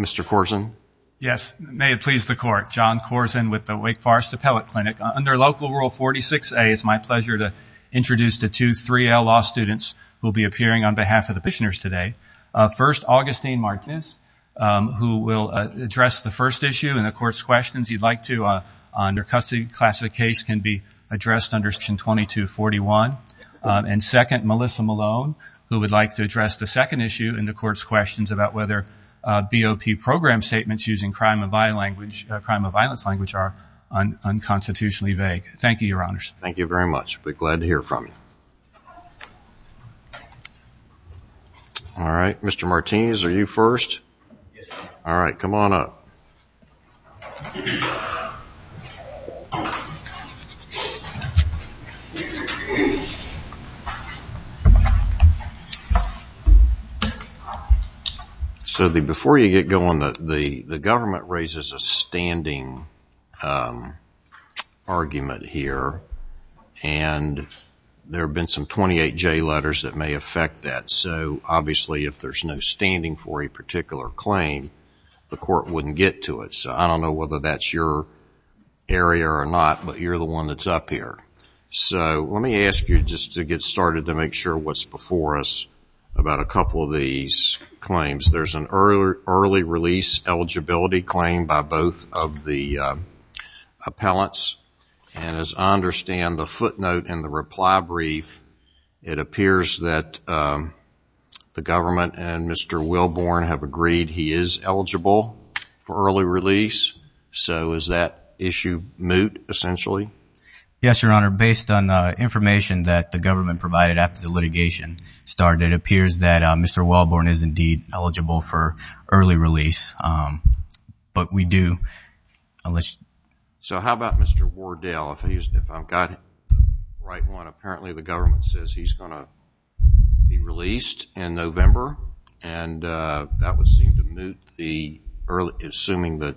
Mr. Corzine. Yes, may it please the court. John Corzine with the Wake Forest Appellate Clinic. Under Local Rule 46A, it's my pleasure to introduce the two 3L law students who will be appearing on behalf of the petitioners today. First, Augustine Markness, who will address the first issue in the court's questions. You'd like to, under custody, class of case can be addressed under section 2241. And second, Melissa Malone, who would like to address the second issue in the court's questions about whether BOP program statements using crime of violence language are unconstitutionally vague. Thank you, your honors. Thank you very much. Be glad to hear from you. All right, Mr. Martinez, are you first? Yes. All right, come on up. So before you get going, the government raises a standing argument here, and there have been some 28J letters that may affect that. So obviously, if there's no standing for a particular claim, the court wouldn't get to it. So I don't know whether that's your area or not, but you're the one that's up here. So let me ask you just to get started to make sure what's before us about a couple of these claims. There's an early release eligibility claim by both of the appellants. And as I understand the footnote and the reply brief, it appears that the government and Mr. Wilborn have agreed he is eligible for early release. So is that issue moot, essentially? Yes, your honor. Based on information that the government provided after the litigation started, it appears that Mr. Wilborn is indeed eligible for early release. But we do. So how about Mr. Wardell, if I've got the right one. Apparently, the government says he's going to be released in November, and that would seem to moot the early, assuming that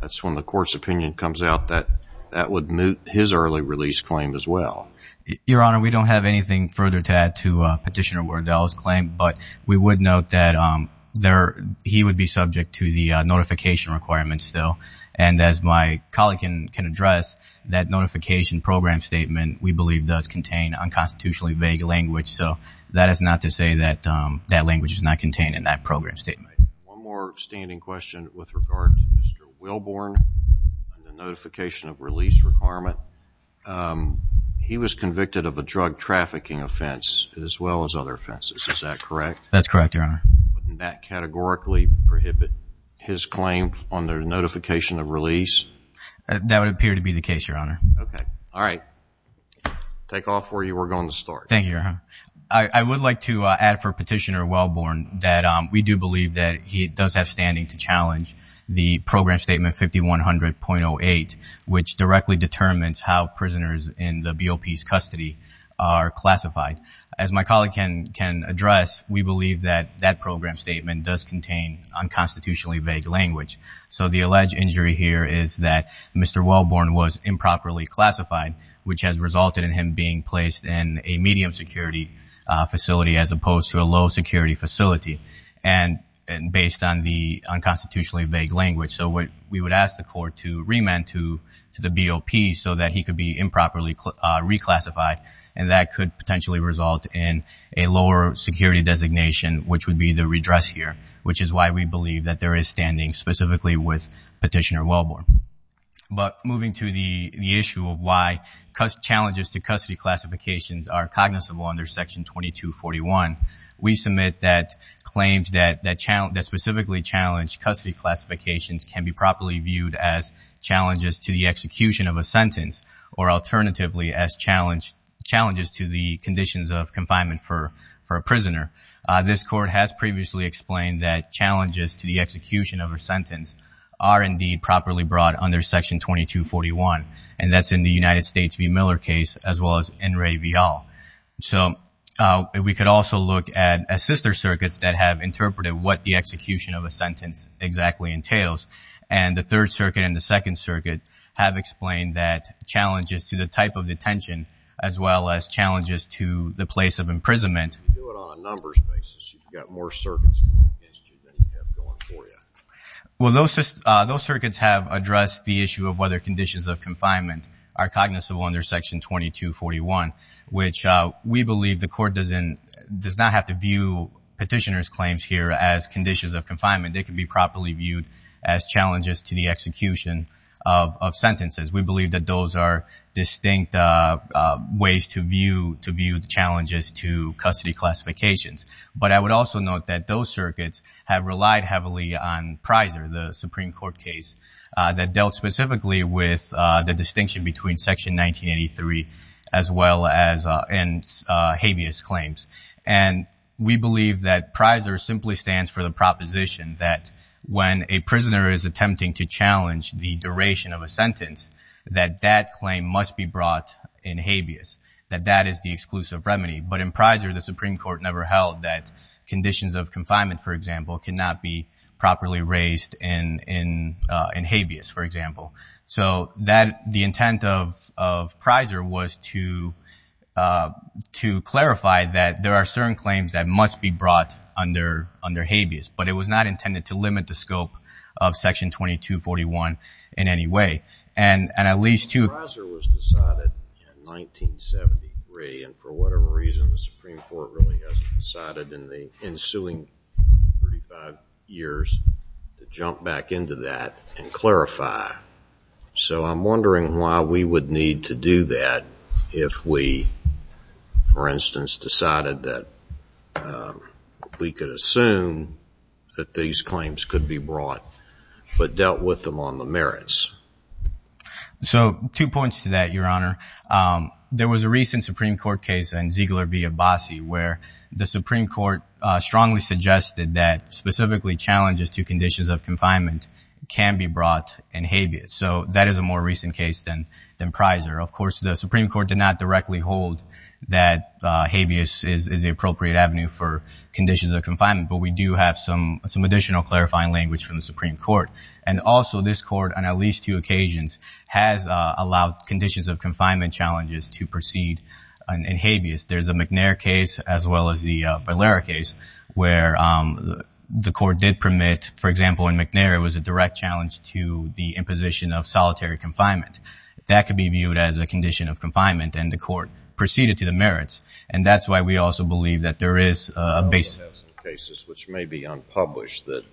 that's when the court's opinion comes out, that that would moot his early release claim as well. Your honor, we don't have anything further to add to Petitioner Wardell's claim, but we would note that he would be subject to the notification requirements still. And as my colleague can address, that notification program statement, we believe, does contain unconstitutionally vague language. So that is not to say that that language is not contained in that program statement. One more standing question with regard to Mr. Wilborn and the notification of release requirement. He was convicted of a drug trafficking offense as well as other offenses. Is that correct? That's correct, your honor. Wouldn't that categorically prohibit his claim on the notification of All right. Takeoff for you. We're going to start. Thank you, your honor. I would like to add for Petitioner Wilborn that we do believe that he does have standing to challenge the program statement 5100.08, which directly determines how prisoners in the BOP's custody are classified. As my colleague can address, we believe that that program statement does contain unconstitutionally vague language. So the alleged injury here is that Mr. Wilborn was improperly classified, which has resulted in him being placed in a medium security facility as opposed to a low security facility and based on the unconstitutionally vague language. So we would ask the court to remand to the BOP so that he could be improperly reclassified and that could potentially result in a lower security designation, which would be the redress here, which is why we believe that there is standing specifically with Petitioner Wilborn. But moving to the issue of why challenges to custody classifications are cognizable under Section 2241, we submit that claims that specifically challenged custody classifications can be properly viewed as challenges to the execution of a sentence or alternatively as challenges to the conditions of confinement for a prisoner. This court has previously explained that challenges to the execution of a sentence are indeed properly brought under Section 2241 and that's in the United States v. Miller case as well as in Ray Vial. So we could also look at sister circuits that have interpreted what the execution of a sentence exactly entails. And the Third Circuit and the Second Circuit have explained that challenges to the type of detention as well as challenges to the place of imprisonment. If you do it on a numbers basis, you've got more circuits going against you than you have going for you. Well, those circuits have addressed the issue of whether conditions of confinement are cognizable under Section 2241, which we believe the court does not have to view Petitioner's claims here as conditions of confinement. They can be properly viewed as challenges to the execution of sentences. We believe that those are distinct ways to view the challenges to custody classifications. But I would also note that those circuits have relied heavily on PRISER, the Supreme Court case that dealt specifically with the distinction between Section 1983 as well as in habeas claims. And we believe that PRISER simply stands for the proposition that when a prisoner is attempting to challenge the duration of a sentence, that that claim must be brought in habeas, that that is the exclusive remedy. But in PRISER, the Supreme Court never held that conditions of confinement, for example, cannot be properly raised in habeas, for example. So the intent of PRISER was to clarify that there are certain claims that must be brought under habeas, but it was not intended to limit the scope of Section 2241 in any way. And at least to... PRISER was decided in 1973, and for whatever reason, the Supreme Court really hasn't decided in the ensuing 35 years to jump back into that and clarify. So I'm wondering why we would need to do that if we, for instance, decided that we could assume that these claims could be brought but dealt with them on the merits. So two points to that, Your Honor. There was a recent Supreme Court case in Ziegler v. Abbasi where the Supreme Court strongly suggested that specifically challenges to conditions of confinement can be brought in habeas. So that is a more recent case than PRISER. Of course, the Supreme Court did not directly hold that habeas is the appropriate avenue for conditions of confinement, but we do have some additional clarifying language from the Supreme Court. And also, this Court, on at least two occasions, has allowed conditions of confinement challenges to proceed in habeas. There's a McNair case as well as the Valera case where the Court did permit, for example, in McNair, it was a direct challenge to the imposition of solitary confinement. That could be viewed as a condition of confinement, and the Court proceeded to the merits. And that's why we also believe that there is a basis of cases which may be unpublished that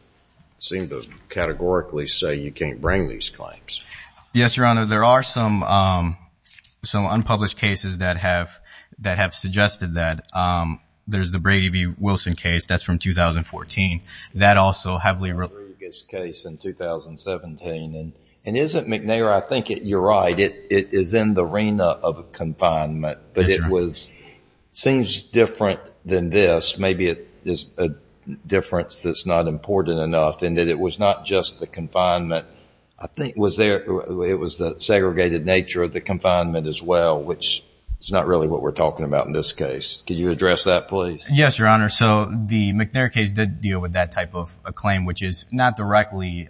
seem to categorically say you can't bring these claims. Yes, Your Honor. There are some unpublished cases that have suggested that. There's the Brady v. Wilson case. That's from 2014. That also heavily related to the Rodriguez case in 2017. And isn't McNair, I think you're right, it is in the arena of confinement. But it was, it seems different than this. Maybe it is a difference that's not important enough in that it was not just the confinement. I think was there, it was the segregated nature of the confinement as well, which is not really what we're talking about in this case. Can you address that, please? Yes, Your Honor. So the McNair case did deal with that type of a claim, which is not directly,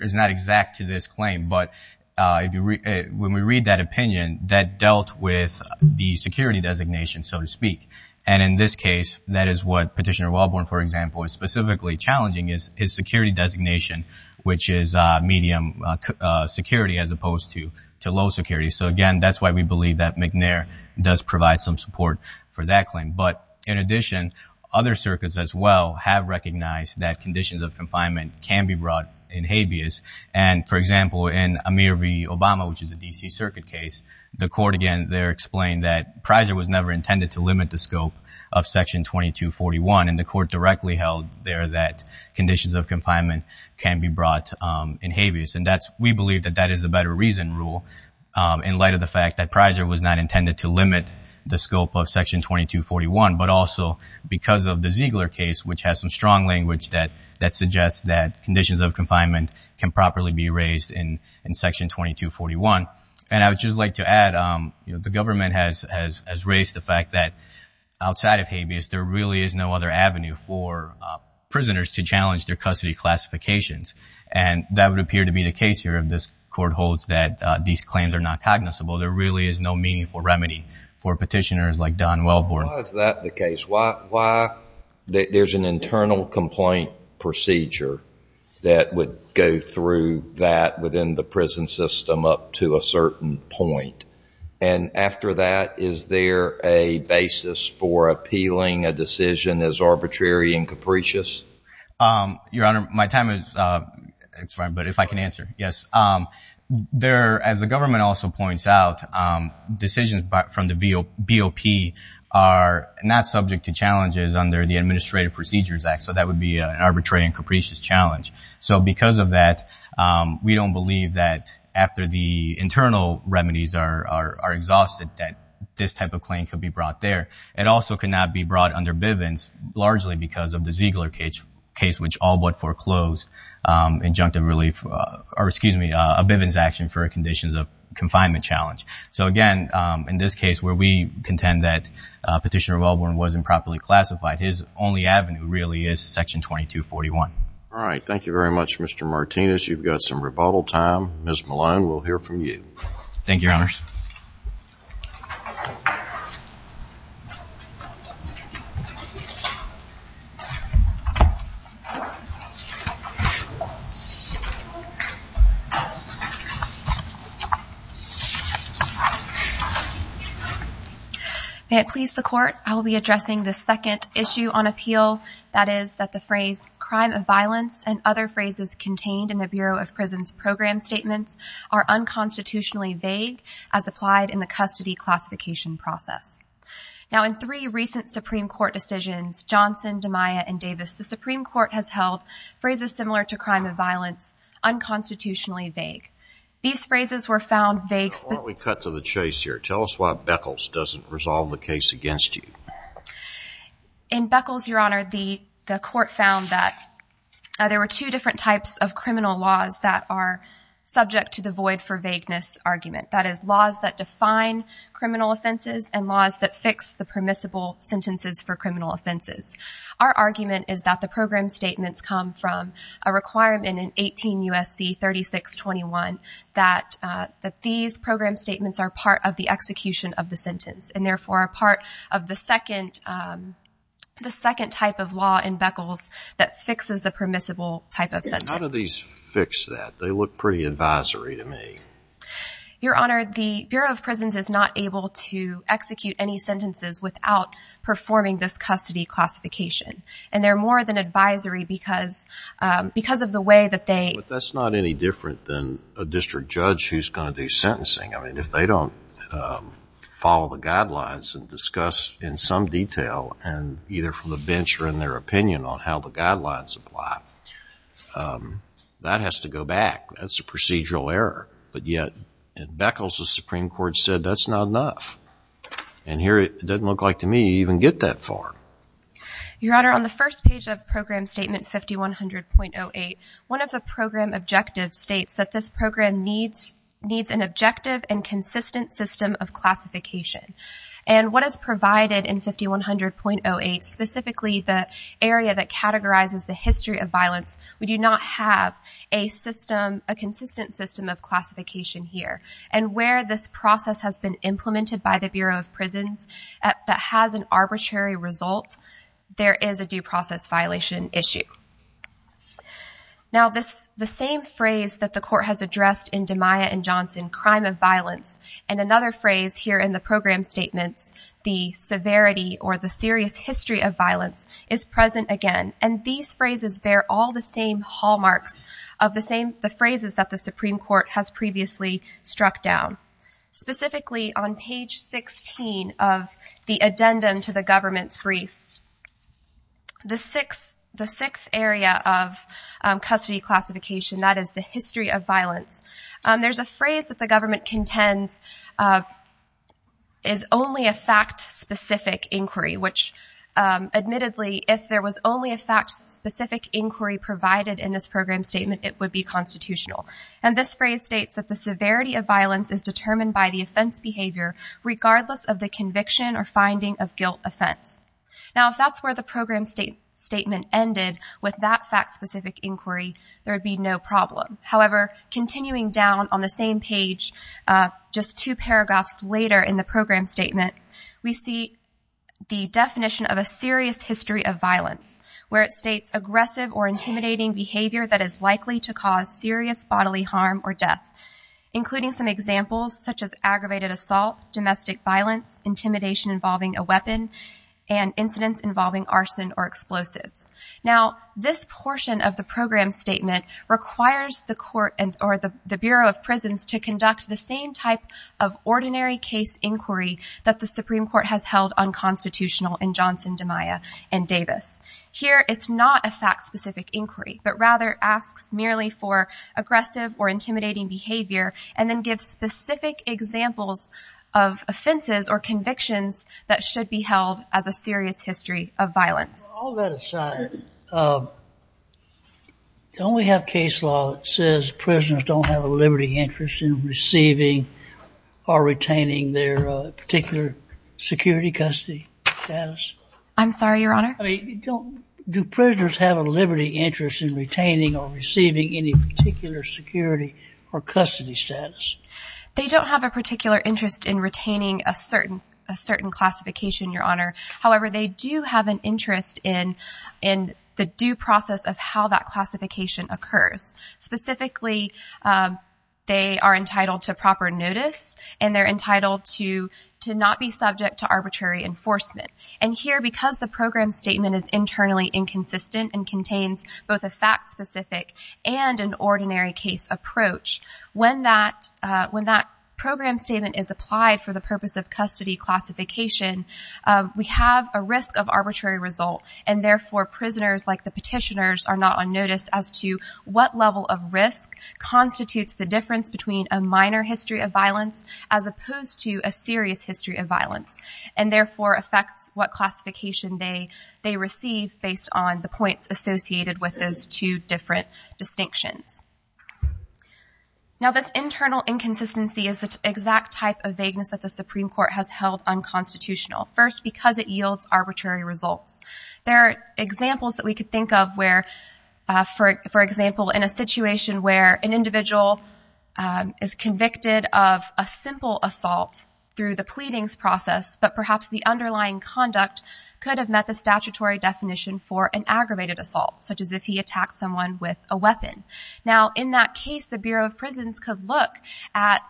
is not exact to this claim. But when we read that opinion, that dealt with the security designation, so to speak. And in this case, that is what Petitioner Walborn, for example, is specifically challenging is security designation, which is medium security as opposed to low security. So again, that's why we believe that McNair does provide some support for that claim. But in addition, other circuits as well have recognized that conditions of confinement can be brought in habeas. And for example, in Amir V. Obama, which is a D.C. circuit case, the court, again, there explained that Prizer was never intended to limit the scope of Section 2241. And the court directly held there that conditions of confinement can be brought in habeas. And that's, we believe that that is a better reason rule in light of the fact that Prizer was not intended to limit the scope of Section 2241, but also because of the Ziegler case, which has some strong language that suggests that conditions of confinement can properly be raised in Section 2241. And I would just like to add, the government has raised the fact that outside of habeas, there really is no other avenue for prisoners to challenge their custody classifications. And that would appear to be the case here if this court holds that these claims are not cognizable. There really is no meaningful remedy for petitioners like Don Welborn. Why is that the case? Why, there's an internal complaint procedure that would go through that within the prison system up to a certain point. And after that, is there a basis for appealing a decision as arbitrary and capricious? Your Honor, my time is, but if I can answer, yes. There, as the government also points out, decisions from the BOP are not subject to challenges under the Administrative Procedures Act. So that would be an arbitrary and capricious challenge. So because of that, we don't believe that after the internal remedies are exhausted, that this type of claim could be brought there. It also cannot be brought under Bivens largely because of the Ziegler case, which all but foreclosed injunctive relief, or excuse me, a Bivens action for conditions of confinement challenge. So again, in this case where we contend that Petitioner Welborn wasn't properly classified, his only avenue really is Section 2241. All right. Thank you very much, Mr. Martinez. You've got some rebuttal time. Ms. Malign, we'll hear from you. Thank you, Your Honors. May it please the Court, I will be addressing the second issue on appeal, that is that the phrase crime of violence and other phrases contained in the Bureau of Prisons Program Statements are unconstitutionally vague as applied in the custody classification process. Now, in three recent Supreme Court decisions, Johnson, DeMaia, and Davis, the Supreme Court has held phrases similar to crime of violence unconstitutionally vague. These phrases were found vague. Before we cut to the chase here, tell us why that is. In Beckles, Your Honor, the Court found that there were two different types of criminal laws that are subject to the void for vagueness argument. That is laws that define criminal offenses and laws that fix the permissible sentences for criminal offenses. Our argument is that the program statements come from a requirement in 18 U.S.C. 3621 that these program statements are part of the execution of the sentence and therefore are part of the second type of law in Beckles that fixes the permissible type of sentence. How do these fix that? They look pretty advisory to me. Your Honor, the Bureau of Prisons is not able to execute any sentences without performing this custody classification. And they're more than advisory because of the way that they... But that's not any different than a district judge who's going to do sentencing. I mean, if they don't follow the guidelines and discuss in some detail and either from the bench or in their opinion on how the guidelines apply, that has to go back. That's a procedural error. But yet in Beckles, the Supreme Court said that's not enough. And here it doesn't look like to me you even get that far. Your Honor, on the first page of Program Statement 5100.08, one of the objectives states that this program needs an objective and consistent system of classification. And what is provided in 5100.08, specifically the area that categorizes the history of violence, we do not have a consistent system of classification here. And where this process has been implemented by the Bureau of Prisons that has an arbitrary result, there is a due same phrase that the court has addressed in DeMaia and Johnson, crime of violence. And another phrase here in the program statements, the severity or the serious history of violence is present again. And these phrases, they're all the same hallmarks of the phrases that the Supreme Court has previously struck down. Specifically on page 16 of the addendum to the government's brief, the sixth area of custody classification, that is the history of violence, there's a phrase that the government contends is only a fact-specific inquiry, which admittedly, if there was only a fact-specific inquiry provided in this program statement, it would be constitutional. And this phrase states that the severity of violence is determined by the offense behavior, regardless of the conviction or finding of guilt offense. Now, if that's where the program statement ended with that fact-specific inquiry, there would be no problem. However, continuing down on the same page, just two paragraphs later in the program statement, we see the definition of a serious history of violence, where it states aggressive or intimidating behavior that is likely to cause serious bodily harm or death, including some domestic violence, intimidation involving a weapon, and incidents involving arson or explosives. Now, this portion of the program statement requires the court or the Bureau of Prisons to conduct the same type of ordinary case inquiry that the Supreme Court has held unconstitutional in Johnson, DiMaia, and Davis. Here, it's not a fact-specific inquiry, but rather asks merely for offenses or convictions that should be held as a serious history of violence. Well, all that aside, don't we have case law that says prisoners don't have a liberty interest in receiving or retaining their particular security, custody status? I'm sorry, Your Honor? I mean, do prisoners have a liberty interest in retaining or receiving any particular security or custody status? They don't have a particular interest in retaining a certain classification, Your Honor. However, they do have an interest in the due process of how that classification occurs. Specifically, they are entitled to proper notice, and they're entitled to not be subject to arbitrary enforcement. And here, because the program statement is internally inconsistent and contains both a fact-specific and an ordinary case approach, when that program statement is applied for the purpose of custody classification, we have a risk of arbitrary result. And therefore, prisoners, like the petitioners, are not on notice as to what level of risk constitutes the difference between a minor history of violence as opposed to a serious history of violence, and therefore, affects what classification they receive based on the points associated with those two different distinctions. Now, this internal inconsistency is the exact type of vagueness that the Supreme Court has held unconstitutional, first, because it yields arbitrary results. There are examples that we could think of where, for example, in a situation where an individual is convicted of a simple assault through the pleadings process, but perhaps the underlying conduct could have met the statutory definition for an aggravated assault, such as if he attacked someone with a weapon. Now, in that case, the Bureau of Prisons could look at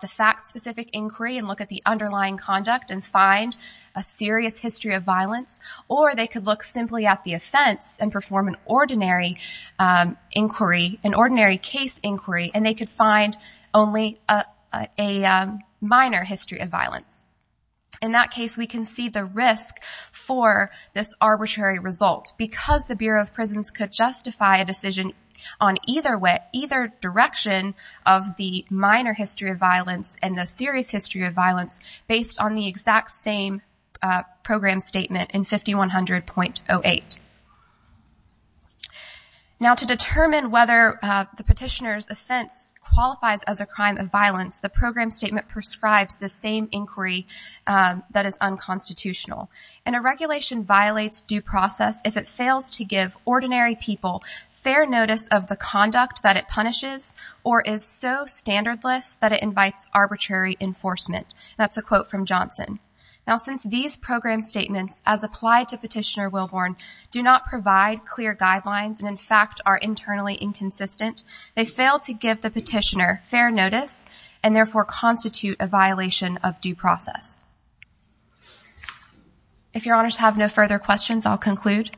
the fact-specific inquiry and look at the underlying conduct and find a serious history of violence, or they could look simply at the offense and perform an ordinary inquiry, an ordinary case inquiry, and they could find only a minor history of violence. In that case, we can see the risk for this arbitrary result because the Bureau of Prisons could justify a decision on either direction of the minor history of violence and the serious history of violence based on the exact same program statement in 5100.08. Now, to determine whether the petitioner's offense qualifies as a crime of violence, the program statement prescribes the same inquiry that is unconstitutional. And a regulation violates due process if it fails to give ordinary people fair notice of the conduct that it punishes or is so standardless that it invites arbitrary enforcement. That's a quote from Johnson. Now, since these program statements, as applied to Petitioner Wilborn, do not provide clear guidelines and, in fact, are internally inconsistent, they fail to give the petitioner fair notice and, therefore, constitute a violation of due process. If Your Honors have no further questions, I'll conclude.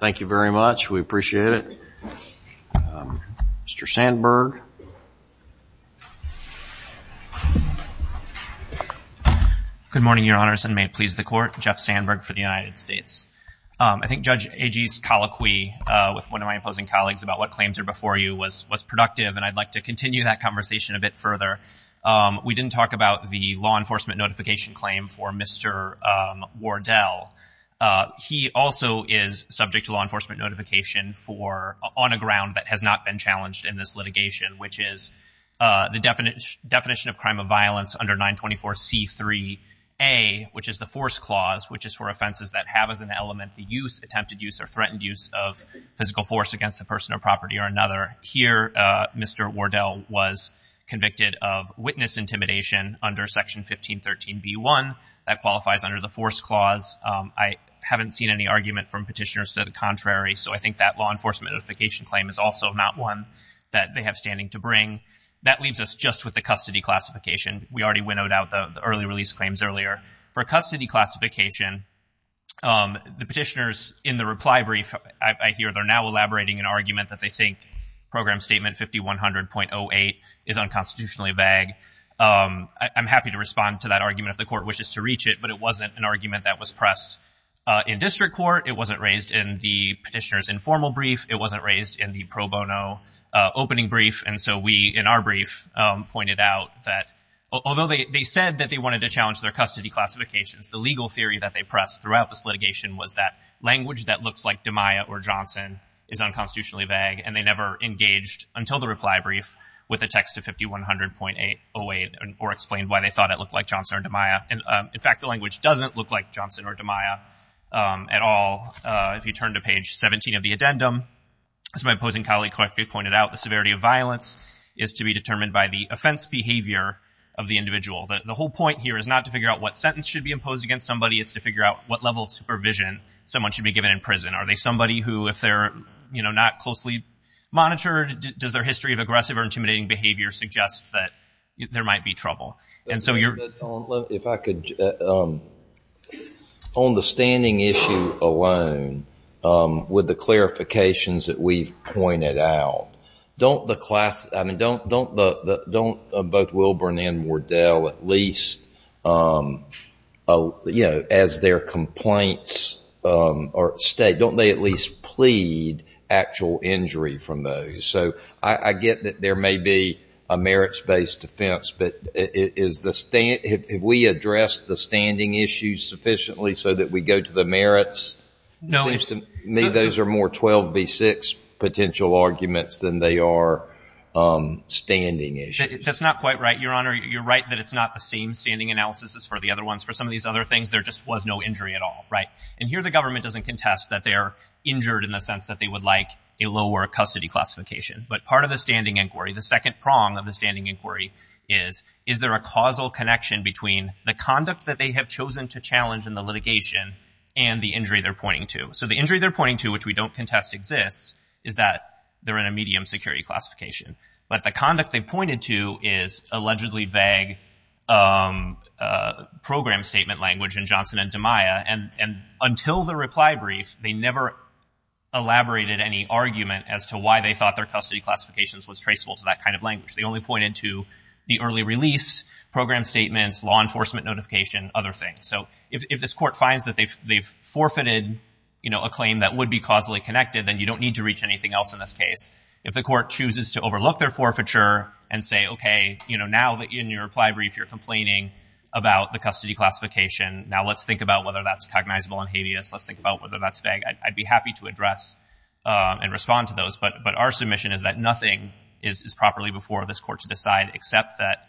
Thank you very much. We appreciate it. Mr. Sandberg. Good morning, Your Honors, and may it please the Court. Jeff Sandberg for the United States. I think Judge Agee's colloquy with one of my opposing colleagues about what claims are before you was productive, and I'd like to continue that conversation a bit further. We didn't talk about the law enforcement notification claim for Mr. Wardell. He also is subject to law enforcement notification on a ground that has not been challenged in this litigation, which is the definition of crime of violence under 924C3A, which is the force clause, which is for offenses that have as an element the use, attempted use, or threatened use of physical force against a person or property or another. Here, Mr. Wardell was convicted of witness intimidation under Section 1513B1. That qualifies under the force clause. I haven't seen any argument from petitioners to the contrary, so I think that law enforcement notification claim is also not one that they have standing to bring. That leaves us just with the custody classification. We already winnowed out the early release claims earlier. For custody classification, the petitioners in the reply brief, I hear they're now elaborating an argument that they think Program Statement 5100.08 is unconstitutionally vague. I'm happy to respond to that argument if the Court wishes to reach it, but it wasn't an argument that was pressed in district court. It wasn't raised in the pro bono opening brief, and so we, in our brief, pointed out that although they said that they wanted to challenge their custody classifications, the legal theory that they pressed throughout this litigation was that language that looks like DeMaya or Johnson is unconstitutionally vague, and they never engaged until the reply brief with a text of 5100.08 or explained why they thought it looked like Johnson or DeMaya. In fact, the language doesn't look like Johnson or DeMaya at all. If you turn to page 17 of the addendum, as my opposing colleague correctly pointed out, the severity of violence is to be determined by the offense behavior of the individual. The whole point here is not to figure out what sentence should be imposed against somebody. It's to figure out what level of supervision someone should be given in prison. Are they somebody who, if they're not closely monitored, does their history of aggressive or intimidating behavior suggest that there might be trouble? On the standing issue alone, with the clarifications that we've pointed out, don't both Wilburn and Wardell at least, as their complaints are stated, don't they at least plead actual injury from those? So I get that there may be a merits-based defense, but have we addressed the standing issue sufficiently so that we go to the merits? To me, those are more 12b6 potential arguments than they are standing issues. That's not quite right, Your Honor. You're right that it's not the same standing analysis as for some of these other things. There just was no injury at all, right? And here the government doesn't contest that they're injured in the sense that they would like a lower custody classification. But part of the standing inquiry, the second prong of the standing inquiry is, is there a causal connection between the conduct that they have chosen to challenge in the litigation and the injury they're pointing to? So the injury they're pointing to, which we don't contest exists, is that they're in a medium security classification. But the program statement language in Johnson and DiMaia, and until the reply brief, they never elaborated any argument as to why they thought their custody classifications was traceable to that kind of language. They only pointed to the early release, program statements, law enforcement notification, other things. So if this court finds that they've forfeited a claim that would be causally connected, then you don't need to reach anything else in this case. If the court chooses to overlook their forfeiture and say, okay, now in your reply brief you're in custody classification. Now let's think about whether that's cognizable and habeas. Let's think about whether that's vague. I'd be happy to address and respond to those. But our submission is that nothing is properly before this court to decide except that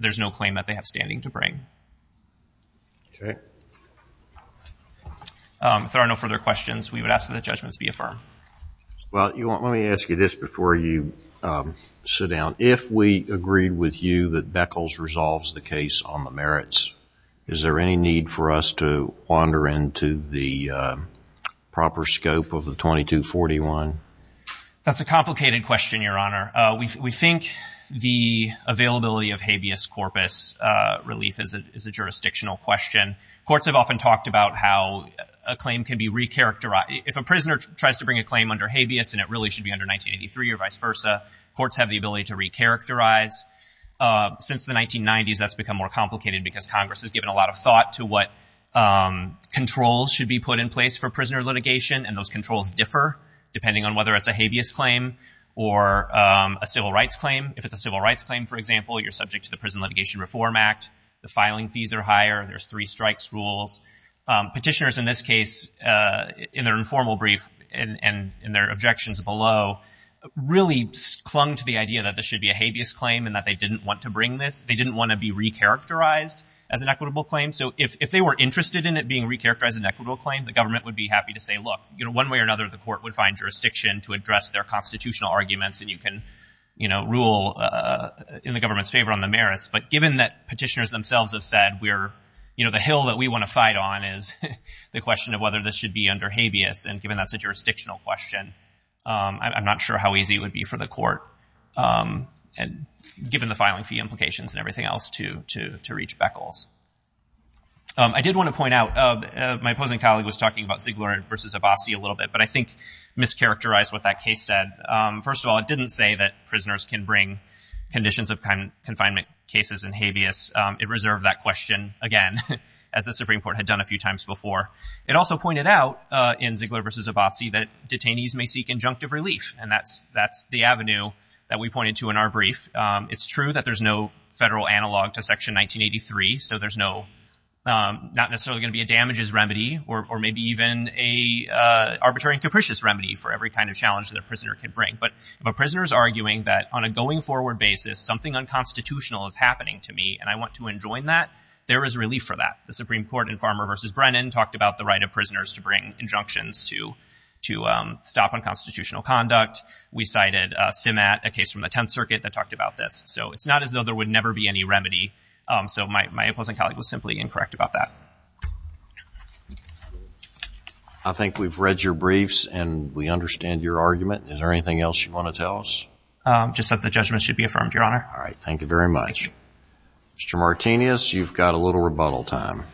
there's no claim that they have standing to bring. If there are no further questions, we would ask that the judgments be affirmed. Well, let me ask you this before you sit down. If we agreed with you that Beckles resolves the case on the merits, is there any need for us to wander into the proper scope of the 2241? That's a complicated question, Your Honor. We think the availability of habeas corpus relief is a jurisdictional question. Courts have often talked about how a claim can be re-characterized. If a prisoner tries to bring a claim under habeas and it really should be under 1983 or vice versa, courts have the ability to re-characterize. Since the 1990s, that's become more complicated because Congress has given a lot of thought to what controls should be put in place for prisoner litigation. And those controls differ depending on whether it's a habeas claim or a civil rights claim. If it's a civil rights claim, for example, you're subject to the Prison Litigation Reform Act. The filing fees are higher. There's three strikes rules. Petitioners, in this case, in their informal brief and in their objections below, really clung to the idea that this should be a habeas claim and that they didn't want to bring this. They didn't want to be re-characterized as an equitable claim. So if they were interested in it being re-characterized as an equitable claim, the government would be happy to say, look, one way or another, the court would find jurisdiction to address their constitutional arguments. And you can rule in the government's favor on the merits. But given that petitioners themselves have said, the hill that we want to fight on is the question of whether this should be under habeas. And given that's a jurisdictional question, I'm not sure how easy it would be for the court, given the filing fee implications and everything else, to reach beckles. I did want to point out, my opposing colleague was talking about Ziegler versus Abbasi a little bit, but I think mischaracterized what that case said. First of all, it didn't say that prisoners can conditions of confinement cases in habeas. It reserved that question, again, as the Supreme Court had done a few times before. It also pointed out in Ziegler versus Abbasi that detainees may seek injunctive relief. And that's the avenue that we pointed to in our brief. It's true that there's no federal analog to Section 1983. So there's not necessarily going to be a damages remedy or maybe even a arbitrary and capricious remedy for every kind of challenge that a prisoner can bring. But if a prisoner is arguing that, on a going forward basis, something unconstitutional is happening to me and I want to enjoin that, there is relief for that. The Supreme Court in Farmer versus Brennan talked about the right of prisoners to bring injunctions to stop unconstitutional conduct. We cited SIMAT, a case from the Tenth Circuit that talked about this. So it's not as though there would never be any remedy. So my opposing colleague was simply incorrect about that. I think we've read your briefs and we understand your argument. Is there anything else you want to tell us? Just that the judgment should be affirmed, Your Honor. All right. Thank you very much. Thank you. Mr. Martinez, you've got a little rebuttal time.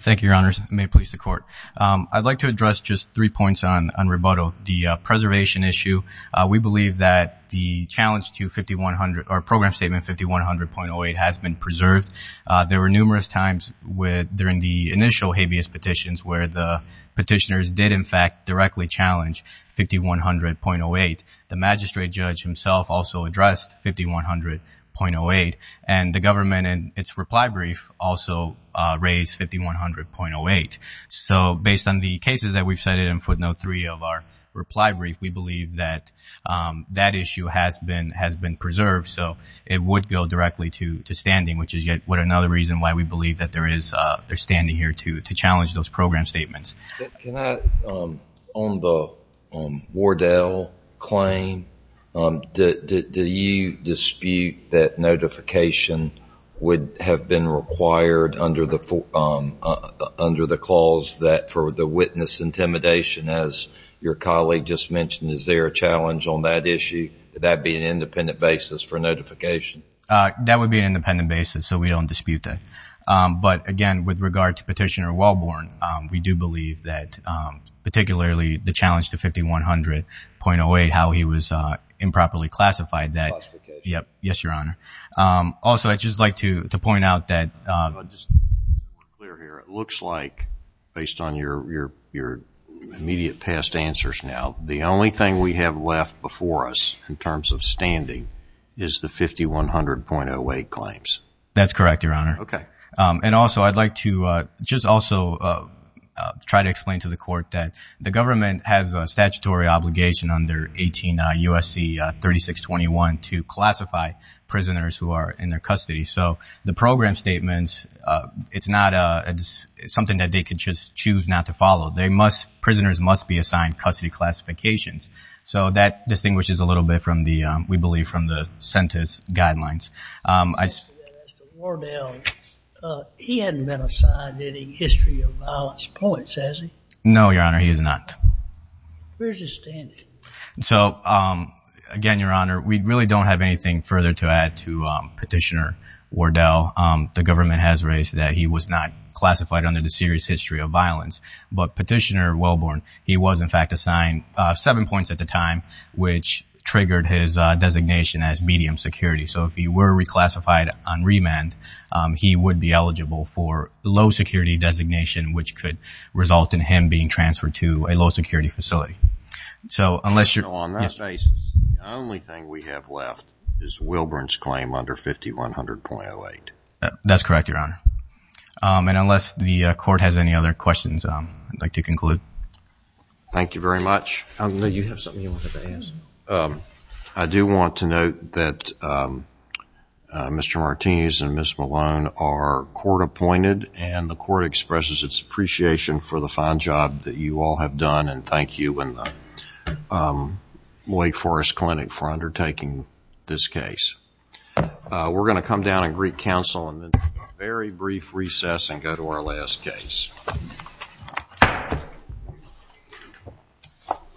Thank you, Your Honors. May it please the Court. I'd like to address just three points on rebuttal. The preservation issue, we believe that the challenge to 5100 or Program Statement 5100.08 has been preserved. There were numerous times during the initial habeas petitions where the magistrate judge himself also addressed 5100.08. And the government in its reply brief also raised 5100.08. So based on the cases that we've cited in footnote three of our reply brief, we believe that that issue has been preserved. So it would go directly to standing, which is yet another reason why we believe that they're standing here to challenge those program statements. Can I, on the Wardell claim, do you dispute that notification would have been required under the clause that for the witness intimidation, as your colleague just mentioned, is there a challenge on that issue? Would that be an independent basis for notification? That would be an independent basis, so we don't dispute that. But again, with regard to Petitioner Wellborn, we do believe that particularly the challenge to 5100.08, how he was improperly classified, yes, Your Honor. Also, I'd just like to point out that- Just to be clear here, it looks like based on your immediate past answers now, the only thing we have left before us in terms of standing is the 5100.08 claims. That's correct, Your Honor. Okay. And also, I'd like to just also try to explain to the court that the government has a statutory obligation under 18 U.S.C. 3621 to classify prisoners who are in their custody. So the program statements, it's not something that they could just choose not to follow. Prisoners must be assigned custody classifications. So that distinguishes a little bit, we believe, from the sentence guidelines. As to Wardell, he hadn't been assigned any history of violence points, has he? No, Your Honor, he has not. Where's his standing? So again, Your Honor, we really don't have anything further to add to Petitioner Wardell. The government has raised that he was not classified under the serious history of violence. But Petitioner Wellborn, he was in fact assigned seven points at the time, which triggered his reclassified on remand. He would be eligible for low security designation, which could result in him being transferred to a low security facility. So unless you're... So on that basis, the only thing we have left is Wilburn's claim under 5100.08. That's correct, Your Honor. And unless the court has any other questions, I'd like to conclude. Thank you very much. I know you have something you wanted to ask. Um, I do want to note that, um, uh, Mr. Martinez and Ms. Malone are court-appointed and the court expresses its appreciation for the fine job that you all have done. And thank you and the, um, Wake Forest Clinic for undertaking this case. Uh, we're going to come down and greet counsel and then a very brief recess and go to our last case.